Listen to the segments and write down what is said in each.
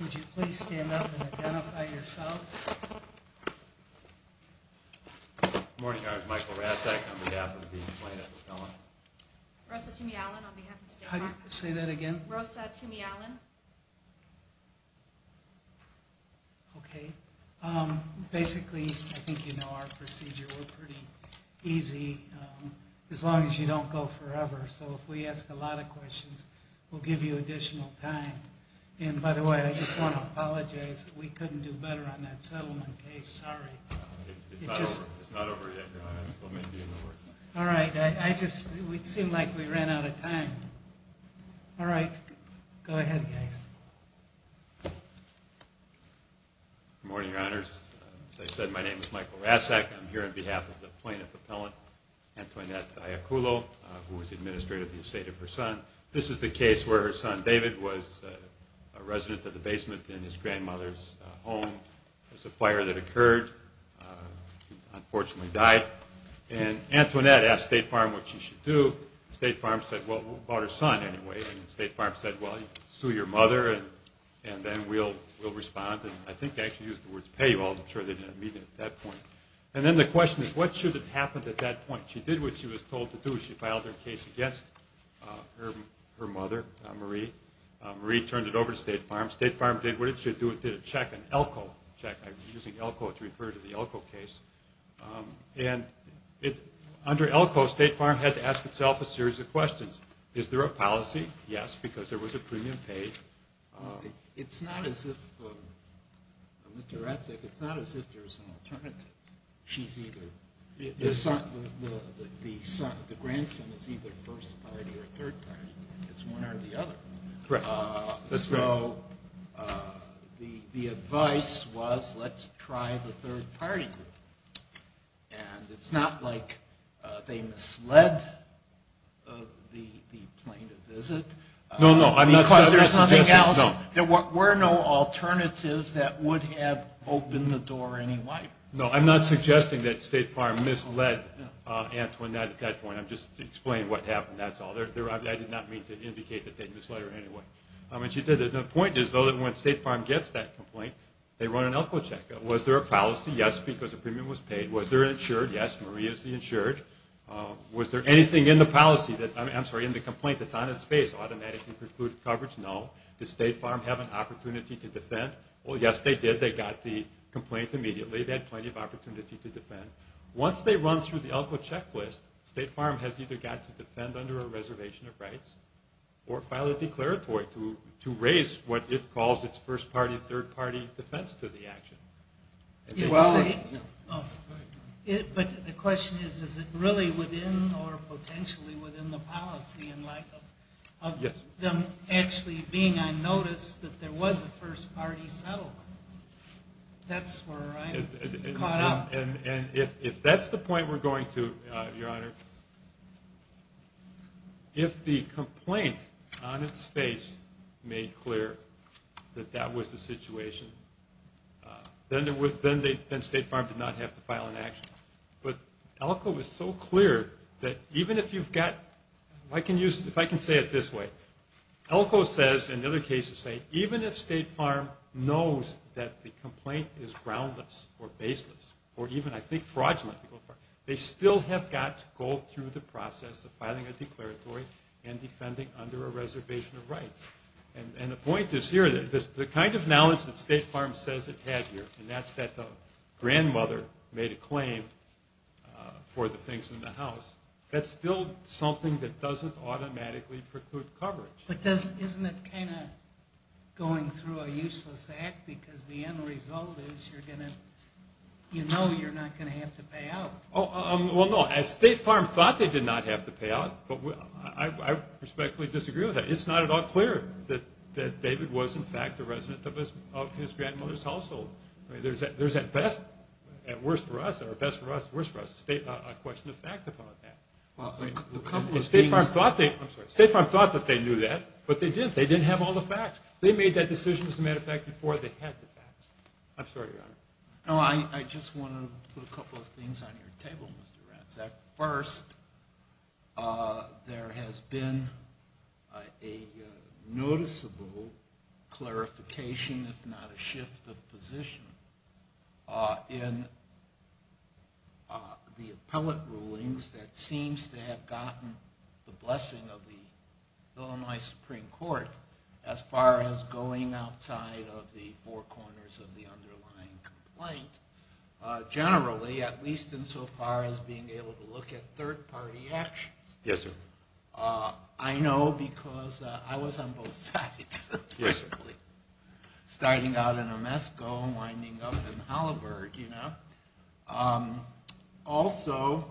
Would you please stand up and identify yourselves? Morning, I'm Michael Rasek on behalf of the plaintiff's felon. Rosa Tumialan on behalf of State Farm. Say that again. Rosa Tumialan. Okay. Basically, I think you know our procedure. We're pretty easy as long as you don't go forever. So if we ask a lot of questions, we'll give you additional time. And, by the way, I just want to apologize. We couldn't do better on that settlement case. Sorry. It's not over yet. All right. It seemed like we ran out of time. All right. Go ahead, guys. Good morning, Your Honors. As I said, my name is Michael Rasek. I'm here on behalf of the plaintiff appellant, Antoinette Iacullo, who was the administrator of the estate of her son. This is the case where her son David was a resident of the basement in his grandmother's home. There was a fire that occurred. He unfortunately died. And Antoinette asked State Farm what she should do. State Farm said, well, about her son anyway. And State Farm said, well, sue your mother and then we'll respond. And I think they actually used the words pay. Well, I'm sure they didn't mean it at that point. And then the question is, what should have happened at that point? She did what she was told to do. She filed her case against her mother, Marie. Marie turned it over to State Farm. State Farm did what it should do. It did a check, an ELCO check. I'm using ELCO to refer to the ELCO case. And under ELCO, State Farm had to ask itself a series of questions. Is there a policy? Yes, because there was a premium paid. It's not as if there's an alternative. The grandson is either first party or third party. It's one or the other. So the advice was let's try the third party. And it's not like they misled the plaintiff, is it? No, no. Because there's nothing else? No. There were no alternatives that would have opened the door anyway. No, I'm not suggesting that State Farm misled Antoinette at that point. I'm just explaining what happened, that's all. I did not mean to indicate that they misled her anyway. The point is, though, that when State Farm gets that complaint, they run an ELCO check. Was there a policy? Yes, because a premium was paid. Was there an insured? Yes, Marie is the insured. Was there anything in the complaint that's on its face, automatically precluded coverage? No. Did State Farm have an opportunity to defend? Well, yes, they did. They got the complaint immediately. They had plenty of opportunity to defend. Once they run through the ELCO checklist, State Farm has either got to defend under a reservation of rights or file a declaratory to raise what it calls its first-party, third-party defense to the action. But the question is, is it really within or potentially within the policy in light of them actually being on notice that there was a first-party settlement? That's where I'm caught up. If that's the point we're going to, Your Honor, if the complaint on its face made clear that that was the situation, then State Farm did not have to file an action. But ELCO was so clear that even if you've got, if I can say it this way, ELCO says, and other cases say, even if State Farm knows that the complaint is groundless or baseless or even, I think, fraudulent, they still have got to go through the process of filing a declaratory and defending under a reservation of rights. And the point is here, the kind of knowledge that State Farm says it had here, and that's that the grandmother made a claim for the things in the house, that's still something that doesn't automatically preclude coverage. But isn't it kind of going through a useless act because the end result is you know you're not going to have to pay out? Well, no, State Farm thought they did not have to pay out, but I respectfully disagree with that. It's not at all clear that David was, in fact, a resident of his grandmother's household. There's at best, or at worst for us, a question of fact about that. State Farm thought that they knew that, but they didn't. They didn't have all the facts. They made that decision, as a matter of fact, before they had the facts. I'm sorry, Your Honor. No, I just want to put a couple of things on your table, Mr. Ratzak. First, there has been a noticeable clarification, if not a shift of position, in the appellate rulings that seems to have gotten the blessing of the Illinois Supreme Court as far as going outside of the four corners of the underlying complaint, generally, at least insofar as being able to look at third-party actions. Yes, sir. I know because I was on both sides, basically, starting out in Omesco and winding up in Halliburg. Also,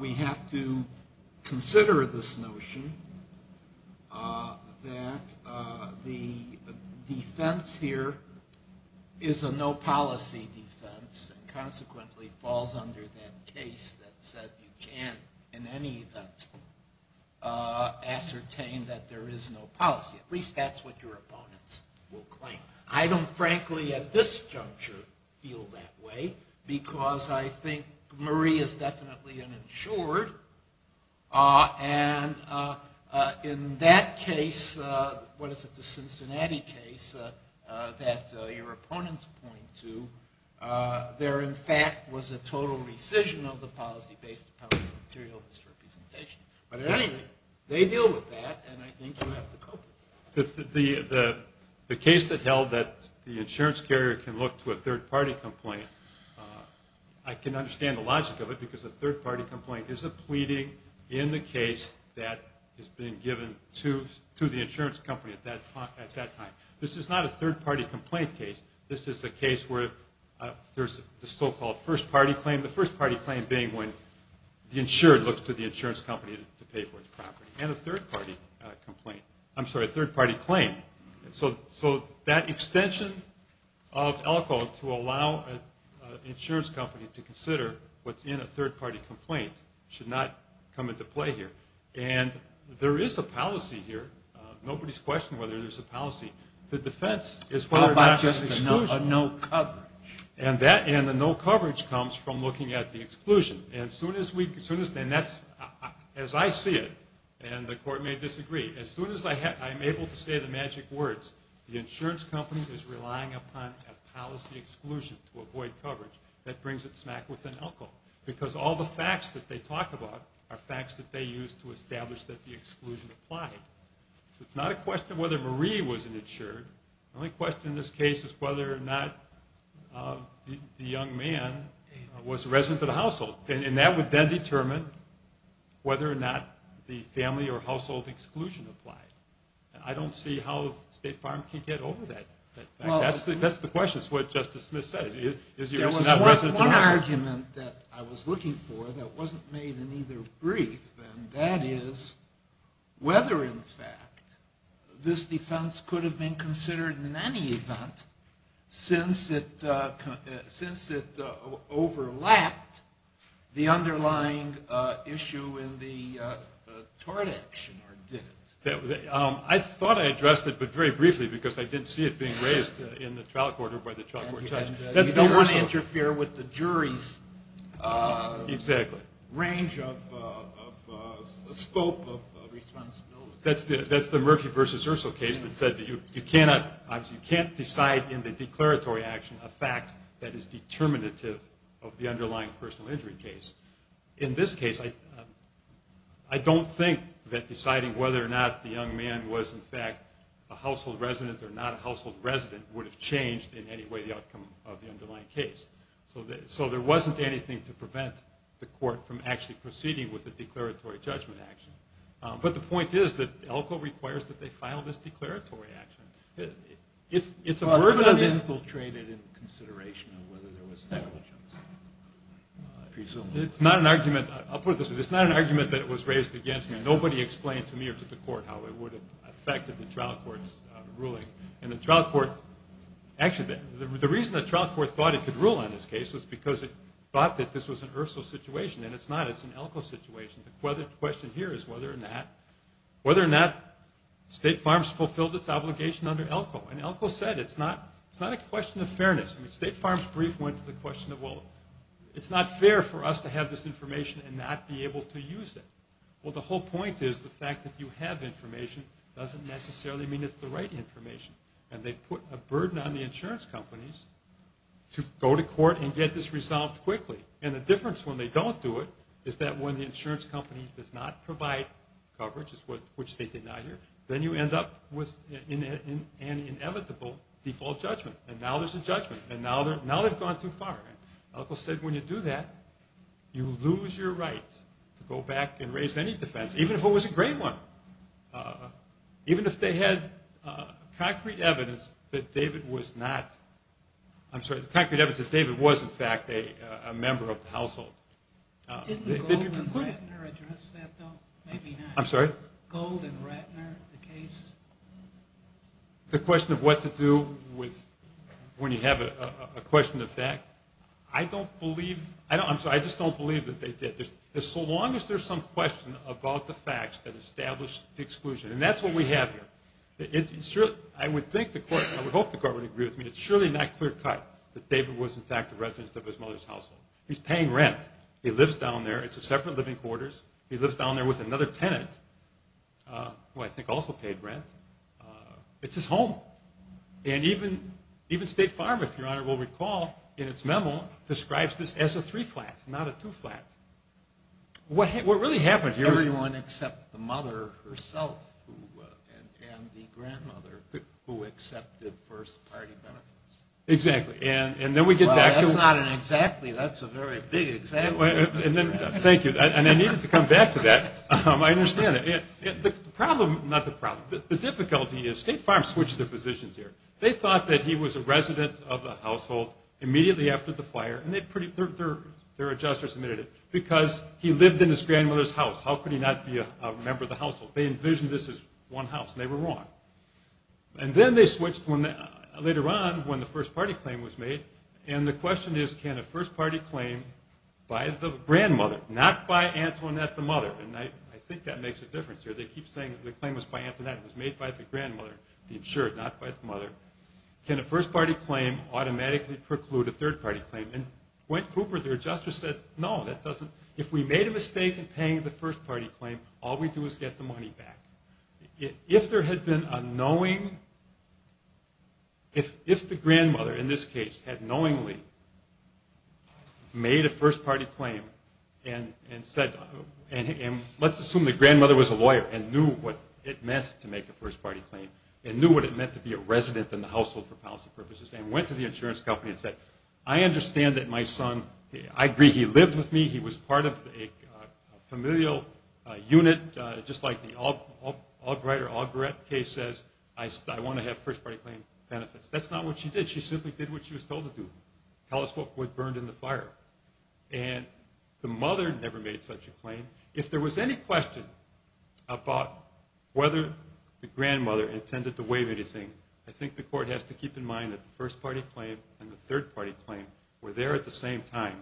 we have to consider this notion that the defense here is a no-policy defense and consequently falls under that case that said you can't in any event ascertain that there is no policy. At least that's what your opponents will claim. I don't, frankly, at this juncture, feel that way because I think Murray is definitely uninsured. And in that case, what is it, the Cincinnati case that your opponents point to, there, in fact, was a total rescission of the policy-based appellate material misrepresentation. But at any rate, they deal with that, and I think you have to cope with that. The case that held that the insurance carrier can look to a third-party complaint, I can understand the logic of it because a third-party complaint is a pleading in the case that is being given to the insurance company at that time. This is not a third-party complaint case. This is a case where there's the so-called first-party claim, the first-party claim being when the insured looks to the insurance company to pay for its property. And a third-party complaint. I'm sorry, a third-party claim. So that extension of ELCO to allow an insurance company to consider what's in a third-party complaint should not come into play here. And there is a policy here. Nobody's questioning whether there's a policy. The defense is whether or not there's exclusion. How about just a no coverage? And that and the no coverage comes from looking at the exclusion. And as I see it, and the court may disagree, as soon as I'm able to say the magic words, the insurance company is relying upon a policy exclusion to avoid coverage, that brings it smack within ELCO. Because all the facts that they talk about are facts that they use to establish that the exclusion applied. So it's not a question of whether Marie was an insured. The only question in this case is whether or not the young man was a resident of the household. And that would then determine whether or not the family or household exclusion applied. And I don't see how State Farm can get over that. That's the question. It's what Justice Smith said. There was one argument that I was looking for that wasn't made in either brief, and that is whether, in fact, this defense could have been considered in any event since it overlapped the underlying issue in the tort action or didn't. I thought I addressed it, but very briefly, because I didn't see it being raised in the trial court or by the trial court judge. You don't want to interfere with the jury's range of scope of responsibility. That's the Murphy v. Urso case that said that you can't decide in the declaratory action a fact that is determinative of the underlying personal injury case. In this case, I don't think that deciding whether or not the young man was, in fact, a household resident or not a household resident would have changed in any way the outcome of the underlying case. So there wasn't anything to prevent the court from actually proceeding with a declaratory judgment action. But the point is that ELCO requires that they file this declaratory action. It's a verbatim... It's not infiltrated in consideration of whether there was negligence, presumably. It's not an argument. I'll put it this way. It's not an argument that was raised against me. Nobody explained to me or to the court how it would have affected the trial court's ruling. And the trial court... Actually, the reason the trial court thought it could rule on this case was because it thought that this was an Urso situation. And it's not. It's an ELCO situation. The question here is whether or not State Farms fulfilled its obligation under ELCO. And ELCO said it's not a question of fairness. State Farms' brief went to the question of, well, it's not fair for us to have this information and not be able to use it. Well, the whole point is the fact that you have information doesn't necessarily mean it's the right information. And they put a burden on the insurance companies to go to court and get this resolved quickly. And the difference when they don't do it is that when the insurance company does not provide coverage, which they did not here, then you end up with an inevitable default judgment. And now there's a judgment. And now they've gone too far. And ELCO said when you do that, you lose your right to go back and raise any defense, even if it was a grave one, even if they had concrete evidence that David was not. I'm sorry, concrete evidence that David was, in fact, a member of the household. Didn't Gold and Ratner address that, though? Maybe not. I'm sorry? Gold and Ratner, the case? The question of what to do when you have a question of fact, I just don't believe that they did, so long as there's some question about the facts that establish the exclusion. And that's what we have here. I would hope the court would agree with me. It's surely not clear-cut that David was, in fact, a resident of his mother's household. He's paying rent. He lives down there. It's a separate living quarters. He lives down there with another tenant, who I think also paid rent. It's his home. And even State Farm, if Your Honor will recall, in its memo, describes this as a three-flat, not a two-flat. What really happened here is- Everyone except the mother herself and the grandmother who accepted first-party benefits. Exactly. And then we get back to- Well, that's not an exactly. That's a very big exactly. Thank you. And I needed to come back to that. I understand that. The problem-not the problem. The difficulty is State Farm switched their positions here. They thought that he was a resident of the household immediately after the fire, and their adjusters admitted it, because he lived in his grandmother's house. How could he not be a member of the household? They envisioned this as one house, and they were wrong. And then they switched later on when the first-party claim was made, and the question is, can a first-party claim by the grandmother, not by Antoinette, the mother? And I think that makes a difference here. They keep saying the claim was by Antoinette. It was made by the grandmother, the insured, not by the mother. Can a first-party claim automatically preclude a third-party claim? And when Cooper, their adjuster, said, no, that doesn't- if we made a mistake in paying the first-party claim, all we do is get the money back. If there had been a knowing- if the grandmother, in this case, had knowingly made a first-party claim and said- and let's assume the grandmother was a lawyer and knew what it meant to make a first-party claim, and knew what it meant to be a resident in the household for policy purposes, and went to the insurance company and said, I understand that my son- says, I want to have first-party claim benefits. That's not what she did. She simply did what she was told to do, tell us what burned in the fire. And the mother never made such a claim. If there was any question about whether the grandmother intended to waive anything, I think the court has to keep in mind that the first-party claim and the third-party claim were there at the same time.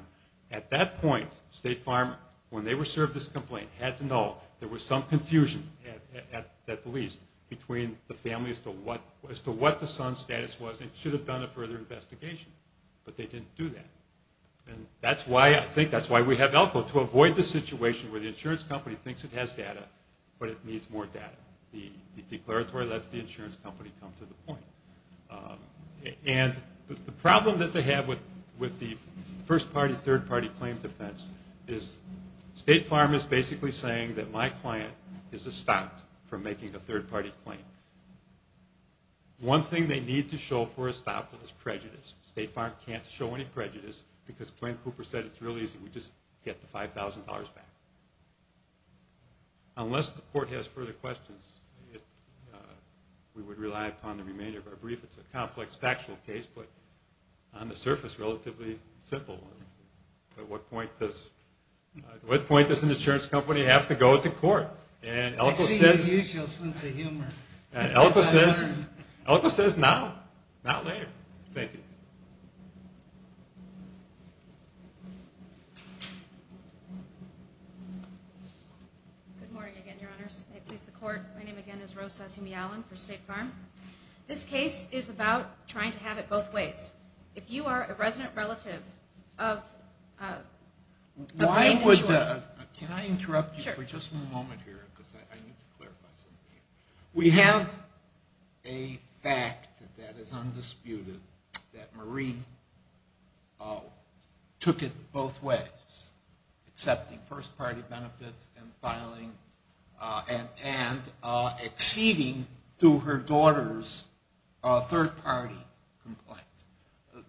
At that point, State Farm, when they were served this complaint, had to know there was some confusion, at the least, between the family as to what the son's status was, and should have done a further investigation. But they didn't do that. And I think that's why we have ELCO, to avoid the situation where the insurance company thinks it has data, but it needs more data. The declaratory lets the insurance company come to the point. And the problem that they have with the first-party, third-party claim defense is State Farm is basically saying that my client is estopped from making a third-party claim. One thing they need to show for estoppel is prejudice. State Farm can't show any prejudice because Glenn Cooper said it's really easy, we just get the $5,000 back. Unless the court has further questions, we would rely upon the remainder of our brief. It's a complex factual case, but on the surface, relatively simple. At what point does an insurance company have to go to court? I see your usual sense of humor. ELCO says now, not later. Thank you. Good morning again, Your Honors. I please the Court. My name again is Rose Satumi-Allen for State Farm. This case is about trying to have it both ways. If you are a resident relative of a client insured. Can I interrupt you for just a moment here? Because I need to clarify something here. We have a fact that is undisputed that Marie took it both ways, accepting first-party benefits and filing and acceding to her daughter's third-party complaint.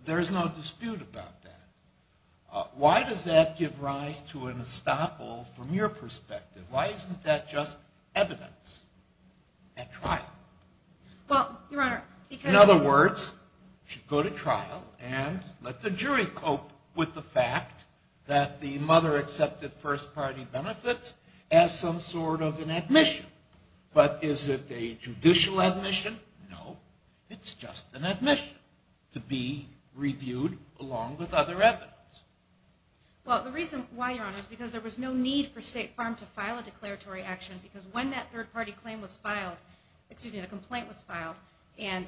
There is no dispute about that. Why does that give rise to an estoppel from your perspective? Why isn't that just evidence at trial? In other words, she'd go to trial and let the jury cope with the fact that the mother accepted first-party benefits as some sort of an admission. But is it a judicial admission? No, it's just an admission to be reviewed along with other evidence. Well, the reason why, Your Honors, is because there was no need for State Farm to file a declaratory action because when that third-party claim was filed, excuse me, the complaint was filed. And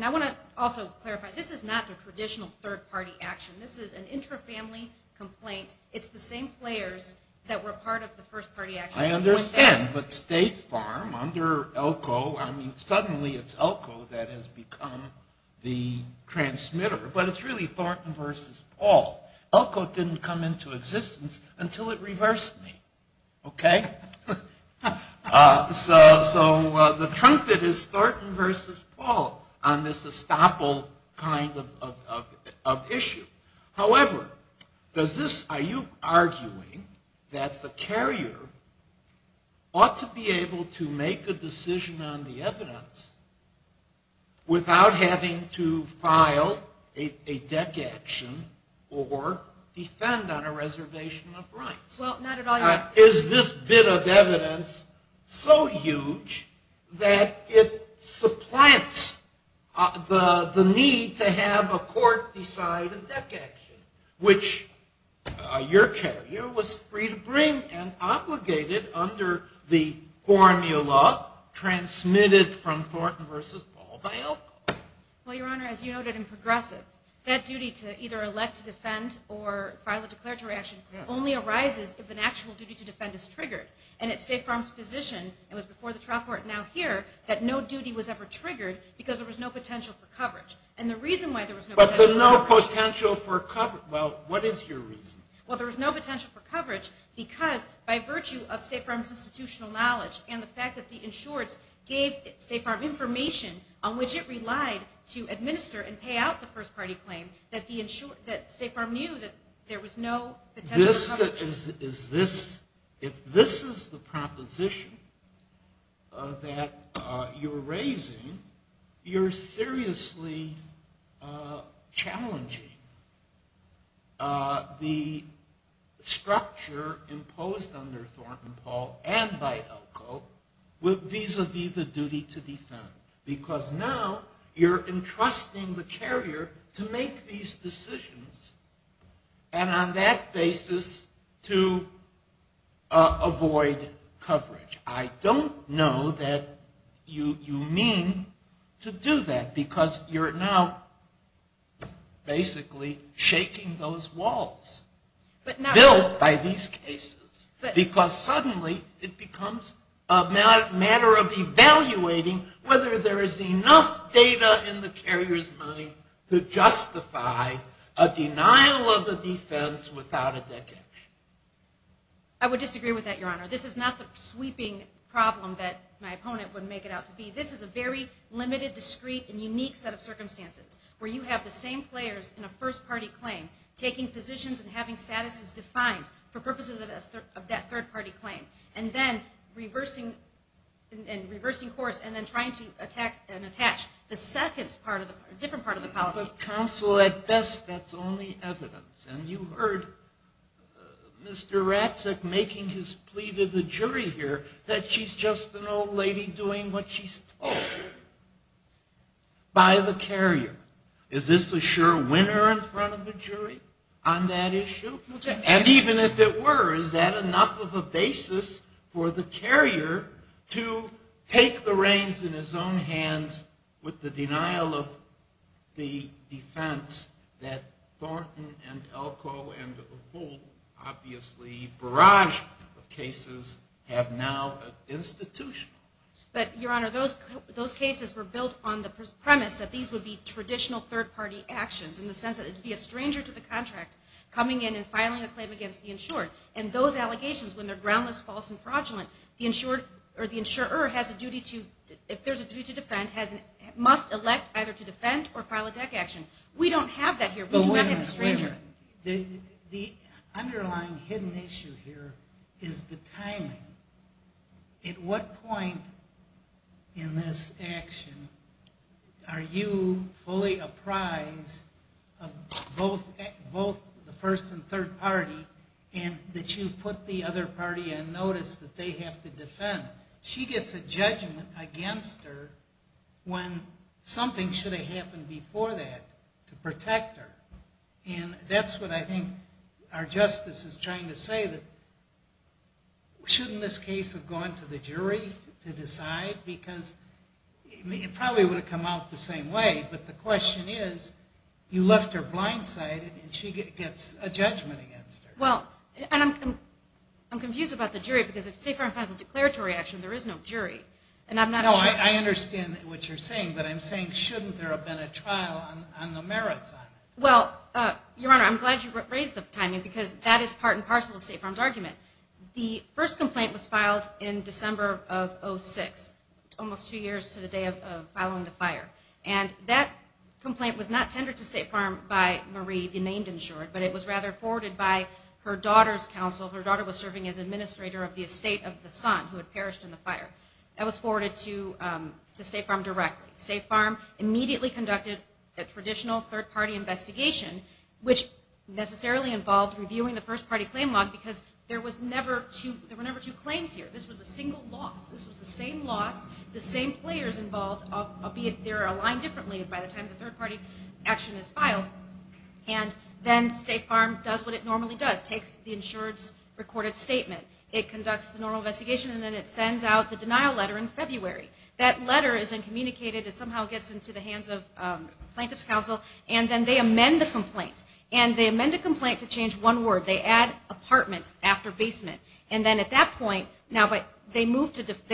I want to also clarify, this is not the traditional third-party action. This is an intra-family complaint. It's the same players that were part of the first-party action. I understand, but State Farm under Elko, I mean, suddenly it's Elko that has become the transmitter. But it's really Thornton v. Paul. Elko didn't come into existence until it reversed me, okay? So the truncate is Thornton v. Paul on this estoppel kind of issue. However, are you arguing that the carrier ought to be able to make a decision on the evidence without having to file a deck action or defend on a reservation of rights? Well, not at all, Your Honor. Is this bit of evidence so huge that it supplants the need to have a court decide a deck action, which your carrier was free to bring and obligated under the formula transmitted from Thornton v. Paul by Elko. Well, Your Honor, as you noted in Progressive, that duty to either elect to defend or file a declaratory action only arises if an actual duty to defend is triggered. And at State Farm's position, it was before the trial court and now here, that no duty was ever triggered because there was no potential for coverage. But the no potential for coverage, well, what is your reason? Well, there was no potential for coverage because by virtue of State Farm's institutional knowledge and the fact that the insureds gave State Farm information on which it relied to administer and pay out the first-party claim, that State Farm knew that there was no potential for coverage. If this is the proposition that you're raising, you're seriously challenging the structure imposed under Thornton v. Paul and by Elko vis-a-vis the duty to defend. Because now you're entrusting the carrier to make these decisions and on that basis to avoid coverage. I don't know that you mean to do that because you're now basically shaking those walls built by these cases. Because suddenly it becomes a matter of evaluating whether there is enough data in the carrier's mind to justify a denial of the defense without a decage. I would disagree with that, Your Honor. This is not the sweeping problem that my opponent would make it out to be. This is a very limited, discreet, and unique set of circumstances where you have the same players in a first-party claim taking positions and having statuses defined for purposes of that third-party claim and then reversing course and then trying to attack and attach the second part of the policy. Counsel, at best that's only evidence. And you heard Mr. Ratzak making his plea to the jury here that she's just an old lady doing what she's told by the carrier. Is this a sure winner in front of the jury on that issue? And even if it were, is that enough of a basis for the carrier to take the reins in his own hands with the denial of the defense that Thornton and Elko and the whole, obviously, barrage of cases have now institutionalized? But, Your Honor, those cases were built on the premise that these would be traditional third-party actions in the sense that it would be a stranger to the contract coming in and filing a claim against the insured. And those allegations, when they're groundless, false, and fraudulent, the insurer, if there's a duty to defend, must elect either to defend or file a DEC action. We don't have that here. We do not have a stranger. The underlying hidden issue here is the timing. At what point in this action are you fully apprised of both the first and third party and that you put the other party on notice that they have to defend? She gets a judgment against her when something should have happened before that to protect her. And that's what I think our justice is trying to say, that shouldn't this case have gone to the jury to decide? Because it probably would have come out the same way, but the question is you left her blindsided and she gets a judgment against her. Well, and I'm confused about the jury because if State Farm has a declaratory action, there is no jury. No, I understand what you're saying, but I'm saying shouldn't there have been a trial on the merits on it? Well, Your Honor, I'm glad you raised the timing because that is part and parcel of State Farm's argument. The first complaint was filed in December of 2006, almost two years to the day of following the fire. And that complaint was not tendered to State Farm by Marie, the named insured, but it was rather forwarded by her daughter's counsel. Her daughter was serving as administrator of the estate of the son who had perished in the fire. That was forwarded to State Farm directly. State Farm immediately conducted a traditional third party investigation, which necessarily involved reviewing the first party claim log because there were never two claims here. This was a single loss. This was the same loss, the same players involved, albeit they're aligned differently by the time the third party action is filed. And then State Farm does what it normally does, takes the insured's recorded statement. It conducts the normal investigation, and then it sends out the denial letter in February. That letter is then communicated. It somehow gets into the hands of plaintiff's counsel, and then they amend the complaint. And they amend the complaint to change one word. They add apartment after basement. And then at that point, they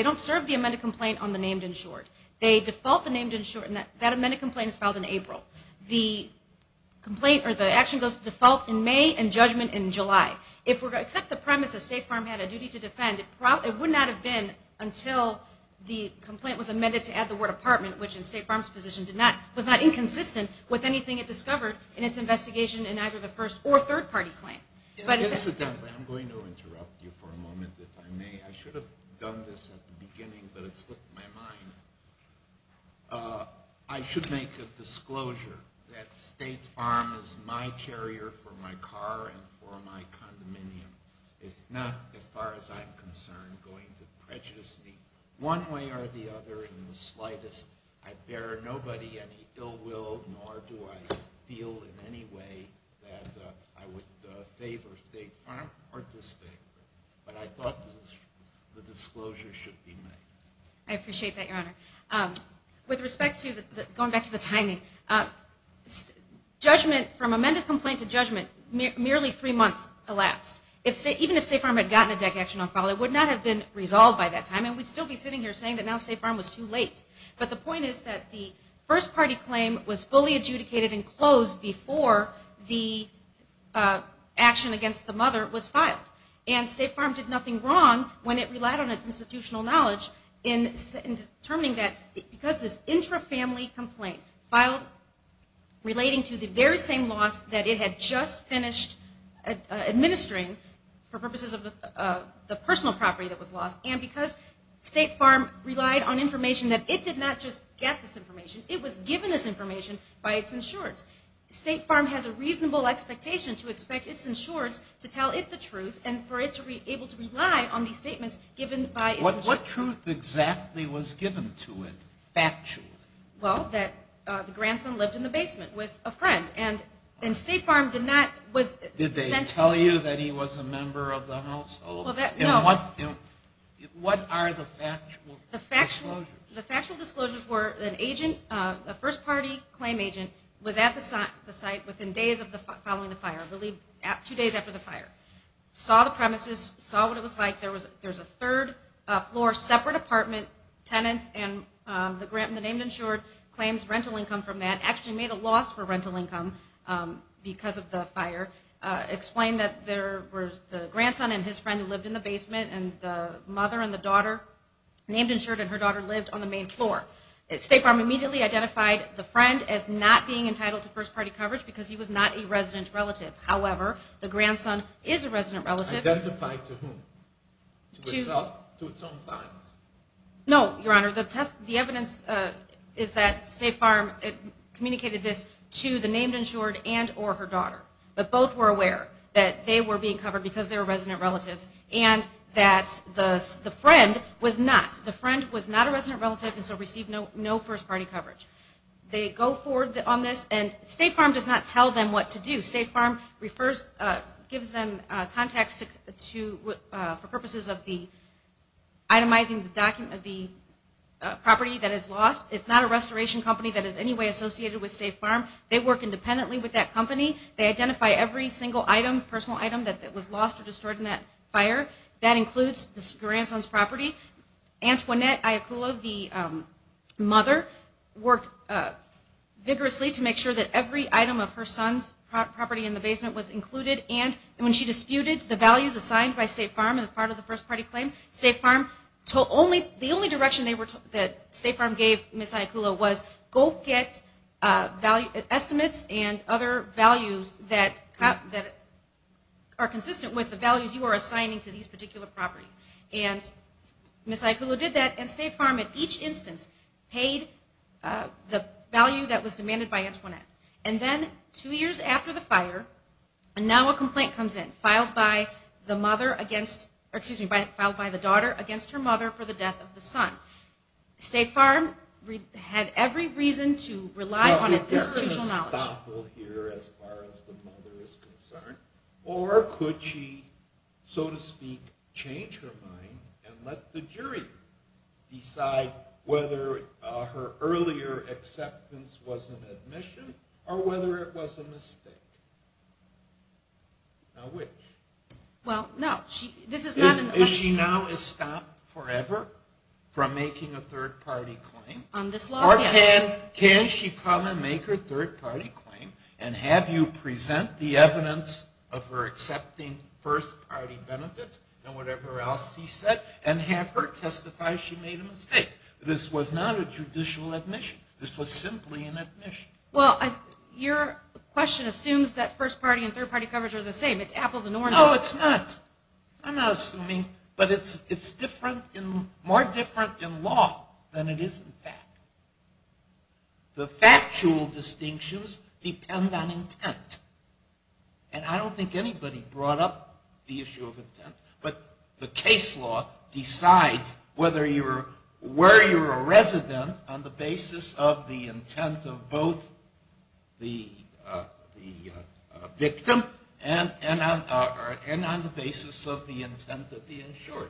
don't serve the amended complaint on the named insured. They default the named insured, and that amended complaint is filed in April. The action goes to default in May and judgment in July. If we're going to accept the premise that State Farm had a duty to defend, it would not have been until the complaint was amended to add the word apartment, which in State Farm's position was not inconsistent with anything it discovered in its investigation in either the first or third party claim. Incidentally, I'm going to interrupt you for a moment if I may. I should have done this at the beginning, but it slipped my mind. I should make a disclosure that State Farm is my carrier for my car and for my condominium. It's not, as far as I'm concerned, going to prejudice me one way or the other in the slightest. I bear nobody any ill will, nor do I feel in any way that I would favor State Farm participate. But I thought the disclosure should be made. I appreciate that, Your Honor. With respect to going back to the timing, judgment from amended complaint to judgment, merely three months elapsed. Even if State Farm had gotten a deck action on file, it would not have been resolved by that time, and we'd still be sitting here saying that now State Farm was too late. But the point is that the first party claim was fully adjudicated and closed before the action against the mother was filed. And State Farm did nothing wrong when it relied on its institutional knowledge in determining that because this intrafamily complaint filed relating to the very same loss that it had just finished administering for purposes of the personal property that was lost, and because State Farm relied on information that it did not just get this information, it was given this information by its insureds. State Farm has a reasonable expectation to expect its insureds to tell it the truth and for it to be able to rely on these statements given by its insureds. What truth exactly was given to it, factually? Well, that the grandson lived in the basement with a friend, and State Farm did not. Did they tell you that he was a member of the household? What are the factual disclosures? The factual disclosures were an agent, a first party claim agent, was at the site within days following the fire, two days after the fire, saw the premises, saw what it was like. There was a third floor separate apartment, tenants, and the named insured claims rental income from that, actually made a loss for rental income because of the fire, explained that the grandson and his friend lived in the basement, and the mother and the daughter, named insured and her daughter, lived on the main floor. State Farm immediately identified the friend as not being entitled to first party coverage because he was not a resident relative. However, the grandson is a resident relative. Identified to whom? To himself? To his own clients? No, Your Honor. The evidence is that State Farm communicated this to the named insured and or her daughter. But both were aware that they were being covered because they were resident relatives and that the friend was not. The friend was not a resident relative and so received no first party coverage. They go forward on this and State Farm does not tell them what to do. State Farm gives them context for purposes of itemizing the property that is lost. It's not a restoration company that is in any way associated with State Farm. They work independently with that company. They identify every single item, personal item, that was lost or destroyed in that fire. That includes the grandson's property. Antoinette Ayacula, the mother, worked vigorously to make sure that every item of her son's property in the basement was included. And when she disputed the values assigned by State Farm as part of the first party claim, the only direction that State Farm gave Ms. Ayacula was go get estimates and other values that are consistent with the values you are assigning to these particular properties. Ms. Ayacula did that and State Farm at each instance paid the value that was demanded by Antoinette. And then two years after the fire, now a complaint comes in filed by the daughter against her mother for the death of the son. State Farm had every reason to rely on its institutional knowledge. Is there a stop here as far as the mother is concerned? Or could she, so to speak, change her mind and let the jury decide whether her earlier acceptance was an admission or whether it was a mistake? Now which? Well, no. Is she now stopped forever from making a third party claim? On this lawsuit. Or can she come and make her third party claim and have you present the evidence of her accepting first party benefits and whatever else he said and have her testify she made a mistake? This was not a judicial admission. This was simply an admission. Well, your question assumes that first party and third party coverage are the same. It's apples and oranges. No, it's not. I'm not assuming. But it's different, more different in law than it is in fact. The factual distinctions depend on intent. And I don't think anybody brought up the issue of intent. But the case law decides whether you're, where you're a resident on the basis of the intent of both the victim and on the basis of the intent of the insured.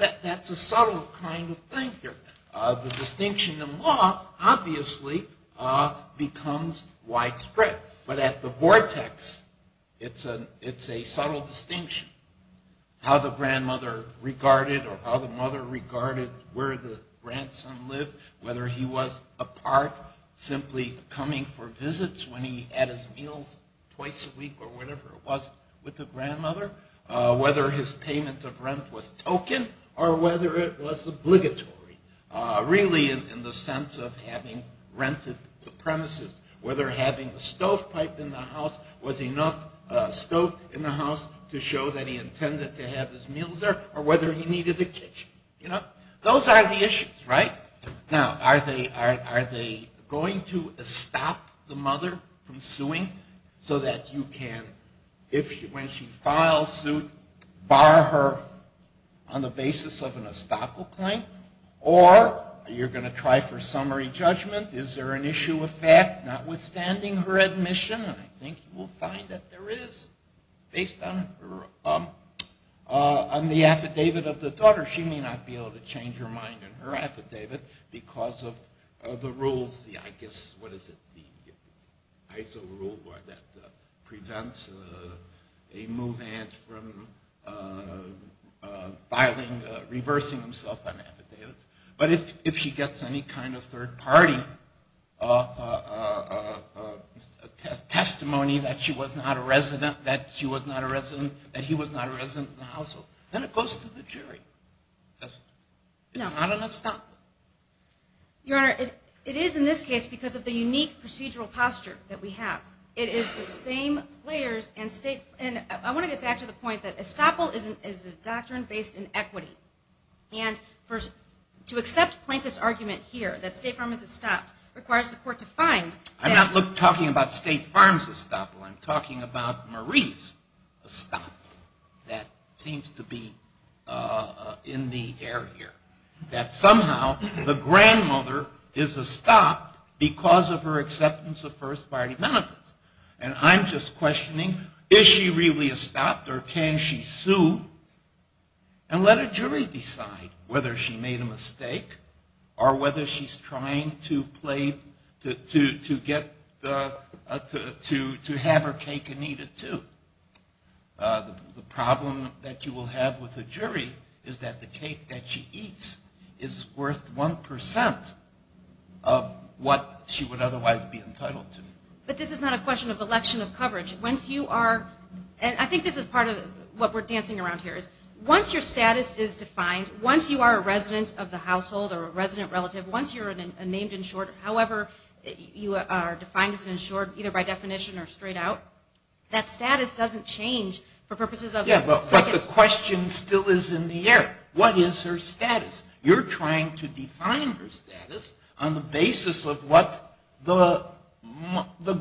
That's a subtle kind of thing here. The distinction in law obviously becomes widespread. But at the vortex, it's a subtle distinction, how the grandmother regarded or how the mother regarded where the grandson lived, whether he was apart, simply coming for visits when he had his meals twice a week or whatever it was with the grandmother, whether his payment of rent was token or whether it was obligatory, really in the sense of having rented the premises, whether having a stovepipe in the house was enough stove in the house to show that he intended to have his meals there or whether he needed a kitchen, you know. Those are the issues, right? Now, are they going to stop the mother from suing so that you can, when she files suit, bar her on the basis of an estoppel claim? Or are you going to try for summary judgment? Is there an issue of fact notwithstanding her admission? And I think you will find that there is based on her, on the affidavit of the daughter. She may not be able to change her mind in her affidavit because of the rules, I guess, what is it, the ISO rule that prevents a move-in from reversing himself on affidavits. But if she gets any kind of third-party testimony that she was not a resident, that she was not a resident, that he was not a resident in the household, then it goes to the jury. It's not an estoppel. Your Honor, it is in this case because of the unique procedural posture that we have. It is the same players and state. And I want to get back to the point that estoppel is a doctrine based in equity. And to accept plaintiff's argument here that state pharmacies stopped requires the court to find. I'm not talking about state farms' estoppel. I'm talking about Marie's estoppel that seems to be in the air here. That somehow the grandmother is estopped because of her acceptance of first-party benefits. And I'm just questioning, is she really estopped or can she sue? And let a jury decide whether she made a mistake or whether she's trying to have her cake and eat it too. The problem that you will have with a jury is that the cake that she eats is worth 1% of what she would otherwise be entitled to. But this is not a question of election of coverage. Once you are, and I think this is part of what we're dancing around here, is once your status is defined, once you are a resident of the household or a resident relative, once you're a named insured, however you are defined as an insured either by definition or straight out, that status doesn't change for purposes of... Yeah, but the question still is in the air. What is her status? You're trying to define her status on the basis of what the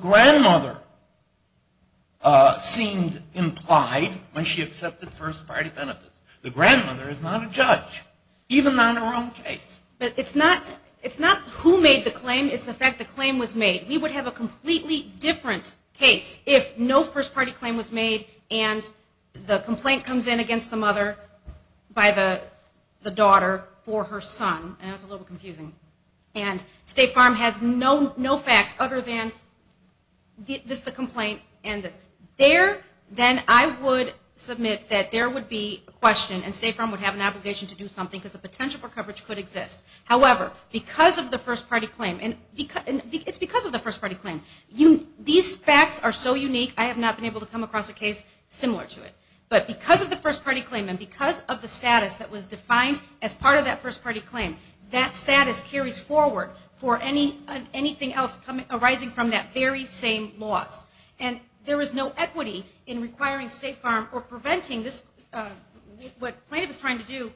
grandmother seemed implied when she accepted first-party benefits. The grandmother is not a judge, even on her own case. But it's not who made the claim. It's the fact the claim was made. We would have a completely different case if no first-party claim was made and the complaint comes in against the mother by the daughter for her son. I know that's a little bit confusing. And State Farm has no facts other than this, the complaint, and this. Then I would submit that there would be a question and State Farm would have an obligation to do something because the potential for coverage could exist. However, because of the first-party claim, and it's because of the first-party claim, these facts are so unique I have not been able to come across a case similar to it. But because of the first-party claim and because of the status that was defined as part of that first-party claim, that status carries forward for anything else arising from that very same loss. And there is no equity in requiring State Farm or preventing this. What plaintiff is trying to do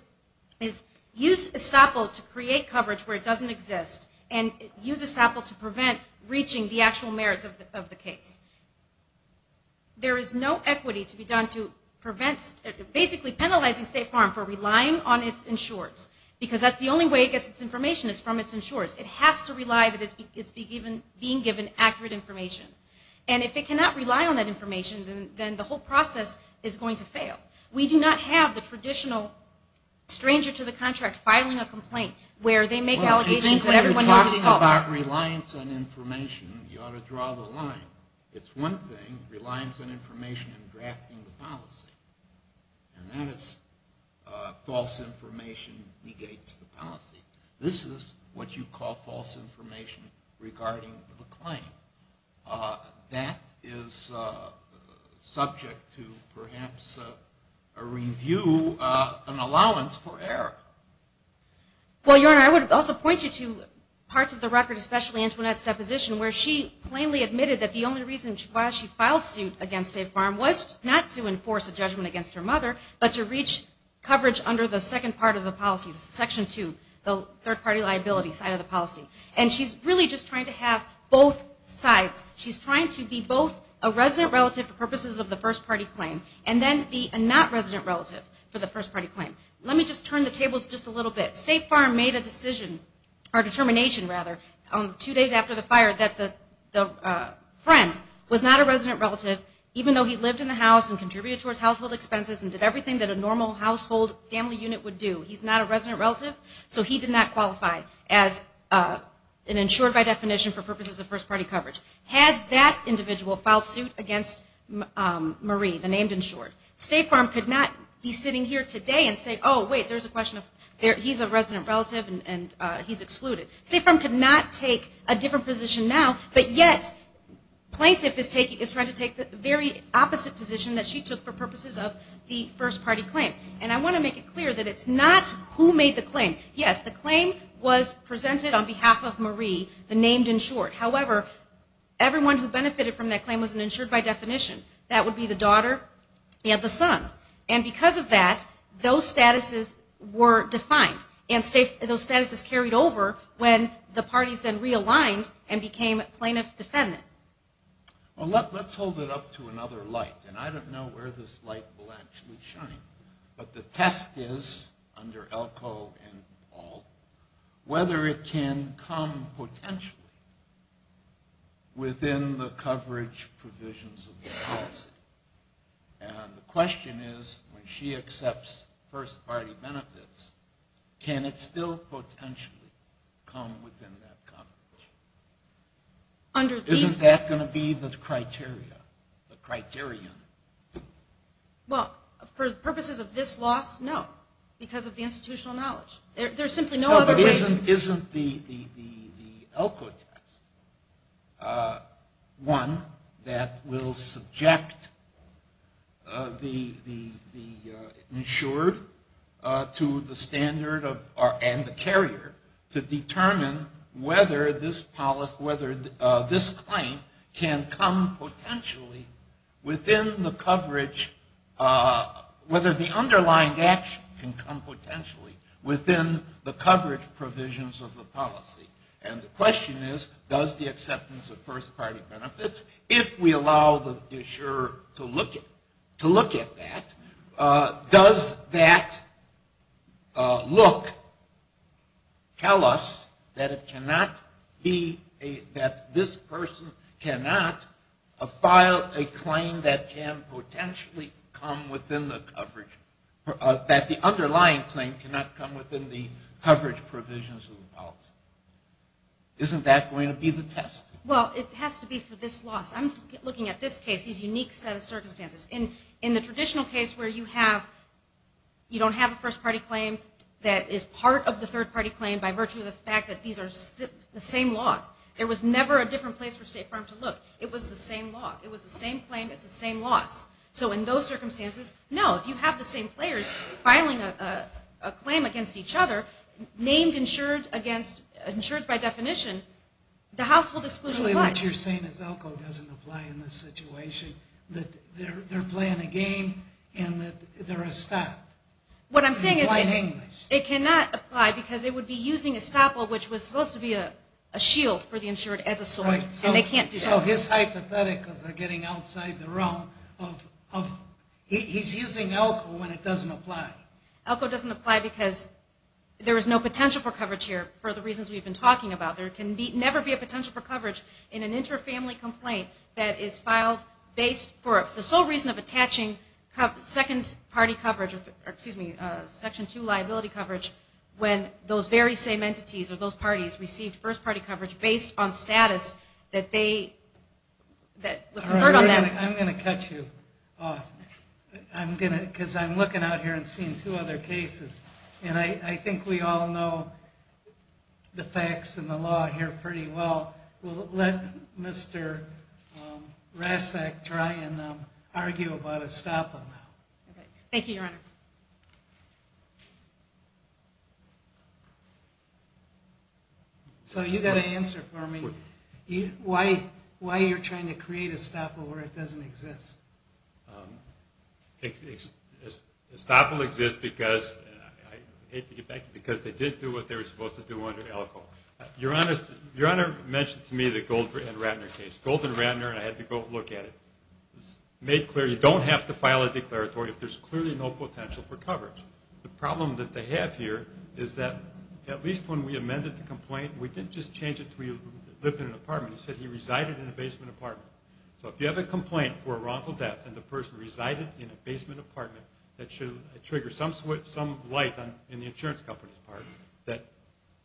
is use estoppel to create coverage where it doesn't exist and use estoppel to prevent reaching the actual merits of the case. There is no equity to be done to prevent basically penalizing State Farm for relying on its insurers because that's the only way it gets its information is from its insurers. It has to rely that it's being given accurate information. And if it cannot rely on that information, then the whole process is going to fail. We do not have the traditional stranger-to-the-contract filing a complaint where they make allegations and everyone knows it's false. Well, I think that you're talking about reliance on information. You ought to draw the line. It's one thing, reliance on information and drafting the policy, and that is false information negates the policy. This is what you call false information regarding the claim. That is subject to perhaps a review, an allowance for error. Well, Your Honor, I would also point you to parts of the record, especially Antoinette's deposition where she plainly admitted that the only reason why she filed suit against State Farm was not to enforce a judgment against her mother, but to reach coverage under the second part of the policy, Section 2, the third-party liability side of the policy. And she's really just trying to have both sides. She's trying to be both a resident relative for purposes of the first-party claim and then be a not-resident relative for the first-party claim. Let me just turn the tables just a little bit. State Farm made a decision, or determination, rather, two days after the fire, and did everything that a normal household family unit would do. He's not a resident relative, so he did not qualify as an insured by definition for purposes of first-party coverage. Had that individual filed suit against Marie, the named insured, State Farm could not be sitting here today and say, oh, wait, there's a question of he's a resident relative and he's excluded. State Farm could not take a different position now, but yet plaintiff is trying to take the very opposite position that she took for purposes of the first-party claim. And I want to make it clear that it's not who made the claim. Yes, the claim was presented on behalf of Marie, the named insured. However, everyone who benefited from that claim was an insured by definition. That would be the daughter and the son. And because of that, those statuses were defined. And those statuses carried over when the parties then realigned and became plaintiff-defendant. Well, let's hold it up to another light. And I don't know where this light will actually shine, but the test is under Elko and Paul whether it can come potentially within the coverage provisions of the policy. And the question is, when she accepts first-party benefits, can it still potentially come within that coverage? Isn't that going to be the criteria, the criterion? Well, for purposes of this loss, no, because of the institutional knowledge. There's simply no other reason. Isn't the Elko test one that will subject the insured to the standard and the carrier to determine whether this claim can come potentially within the coverage, whether the underlying action can come potentially within the coverage provisions of the policy? And the question is, does the acceptance of first-party benefits, if we allow the insurer to look at that, does that look, tell us that this person cannot file a claim that can potentially come within the coverage provisions of the policy? Isn't that going to be the test? Well, it has to be for this loss. I'm looking at this case, this unique set of circumstances. In the traditional case where you don't have a first-party claim that is part of the third-party claim by virtue of the fact that these are the same law, there was never a different place for State Farm to look. It was the same law. It was the same claim. It's the same loss. So in those circumstances, no, if you have the same players filing a claim against each other, named insureds by definition, the household exclusion applies. Clearly what you're saying is ELCO doesn't apply in this situation, that they're playing a game and that they're estopped. In plain English. What I'm saying is it cannot apply because it would be using estoppel, which was supposed to be a shield for the insured as a sword, and they can't do that. So his hypotheticals are getting outside the realm of he's using ELCO when it doesn't apply. ELCO doesn't apply because there is no potential for coverage here for the reasons we've been talking about. There can never be a potential for coverage in an inter-family complaint that is filed based for the sole reason of attaching second-party coverage, or excuse me, Section 2 liability coverage, when those very same entities or those parties received first-party coverage based on status that was conferred on them. I'm going to cut you off. Because I'm looking out here and seeing two other cases, and I think we all know the facts and the law here pretty well. We'll let Mr. Rasek try and argue about estoppel now. Okay. Thank you, Your Honor. So you've got to answer for me. Why are you trying to create estoppel where it doesn't exist? Estoppel exists because they did do what they were supposed to do under ELCO. Your Honor mentioned to me the Gold and Ratner case. Gold and Ratner, and I had to go look at it, made clear you don't have to file a declaratory if there's clearly no potential for coverage. The problem that they have here is that at least when we amended the He said he resided in a basement apartment. So if you have a complaint for a wrongful death, and the person resided in a basement apartment, that should trigger some light in the insurance company's part, that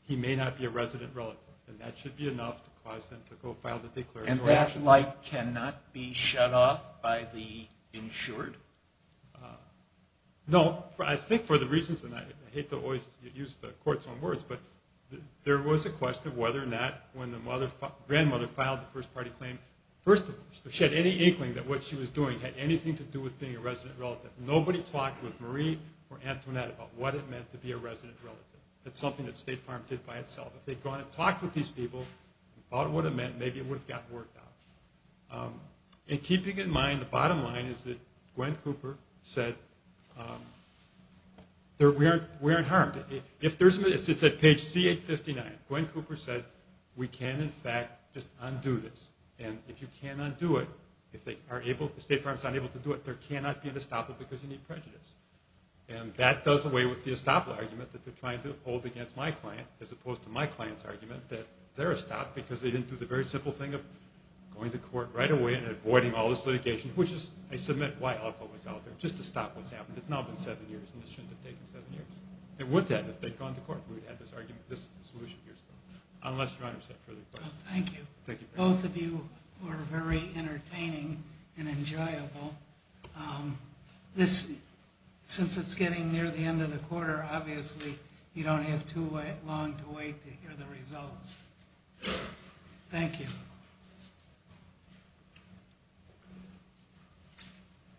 he may not be a resident relative. And that should be enough to cause them to go file the declaratory action. And that light cannot be shut off by the insured? No. I think for the reasons, and I hate to always use the court's own words, but there was a question of whether or not when the grandmother filed the first-party claim, first, if she had any inkling that what she was doing had anything to do with being a resident relative. Nobody talked with Marie or Antoinette about what it meant to be a resident relative. That's something that State Farm did by itself. If they'd gone and talked with these people about what it meant, maybe it would have gotten worked out. And keeping in mind, the bottom line is that Gwen Cooper said, we aren't harmed. It's at page C859. Gwen Cooper said, we can, in fact, just undo this. And if you can't undo it, if State Farm is unable to do it, there cannot be an estoppel because you need prejudice. And that does away with the estoppel argument that they're trying to hold against my client, as opposed to my client's argument that they're estopped because they didn't do the very simple thing of going to court right away and avoiding all this litigation, which is, I submit, why alcohol was out there, just to stop what's happened. It's now been seven years, and this shouldn't have taken seven years. It would have, if they'd gone to court. We would have had this argument, this solution years ago, unless your Honor said further questions. Thank you. Both of you were very entertaining and enjoyable. Since it's getting near the end of the quarter, obviously you don't have too long to wait to hear the results. Thank you.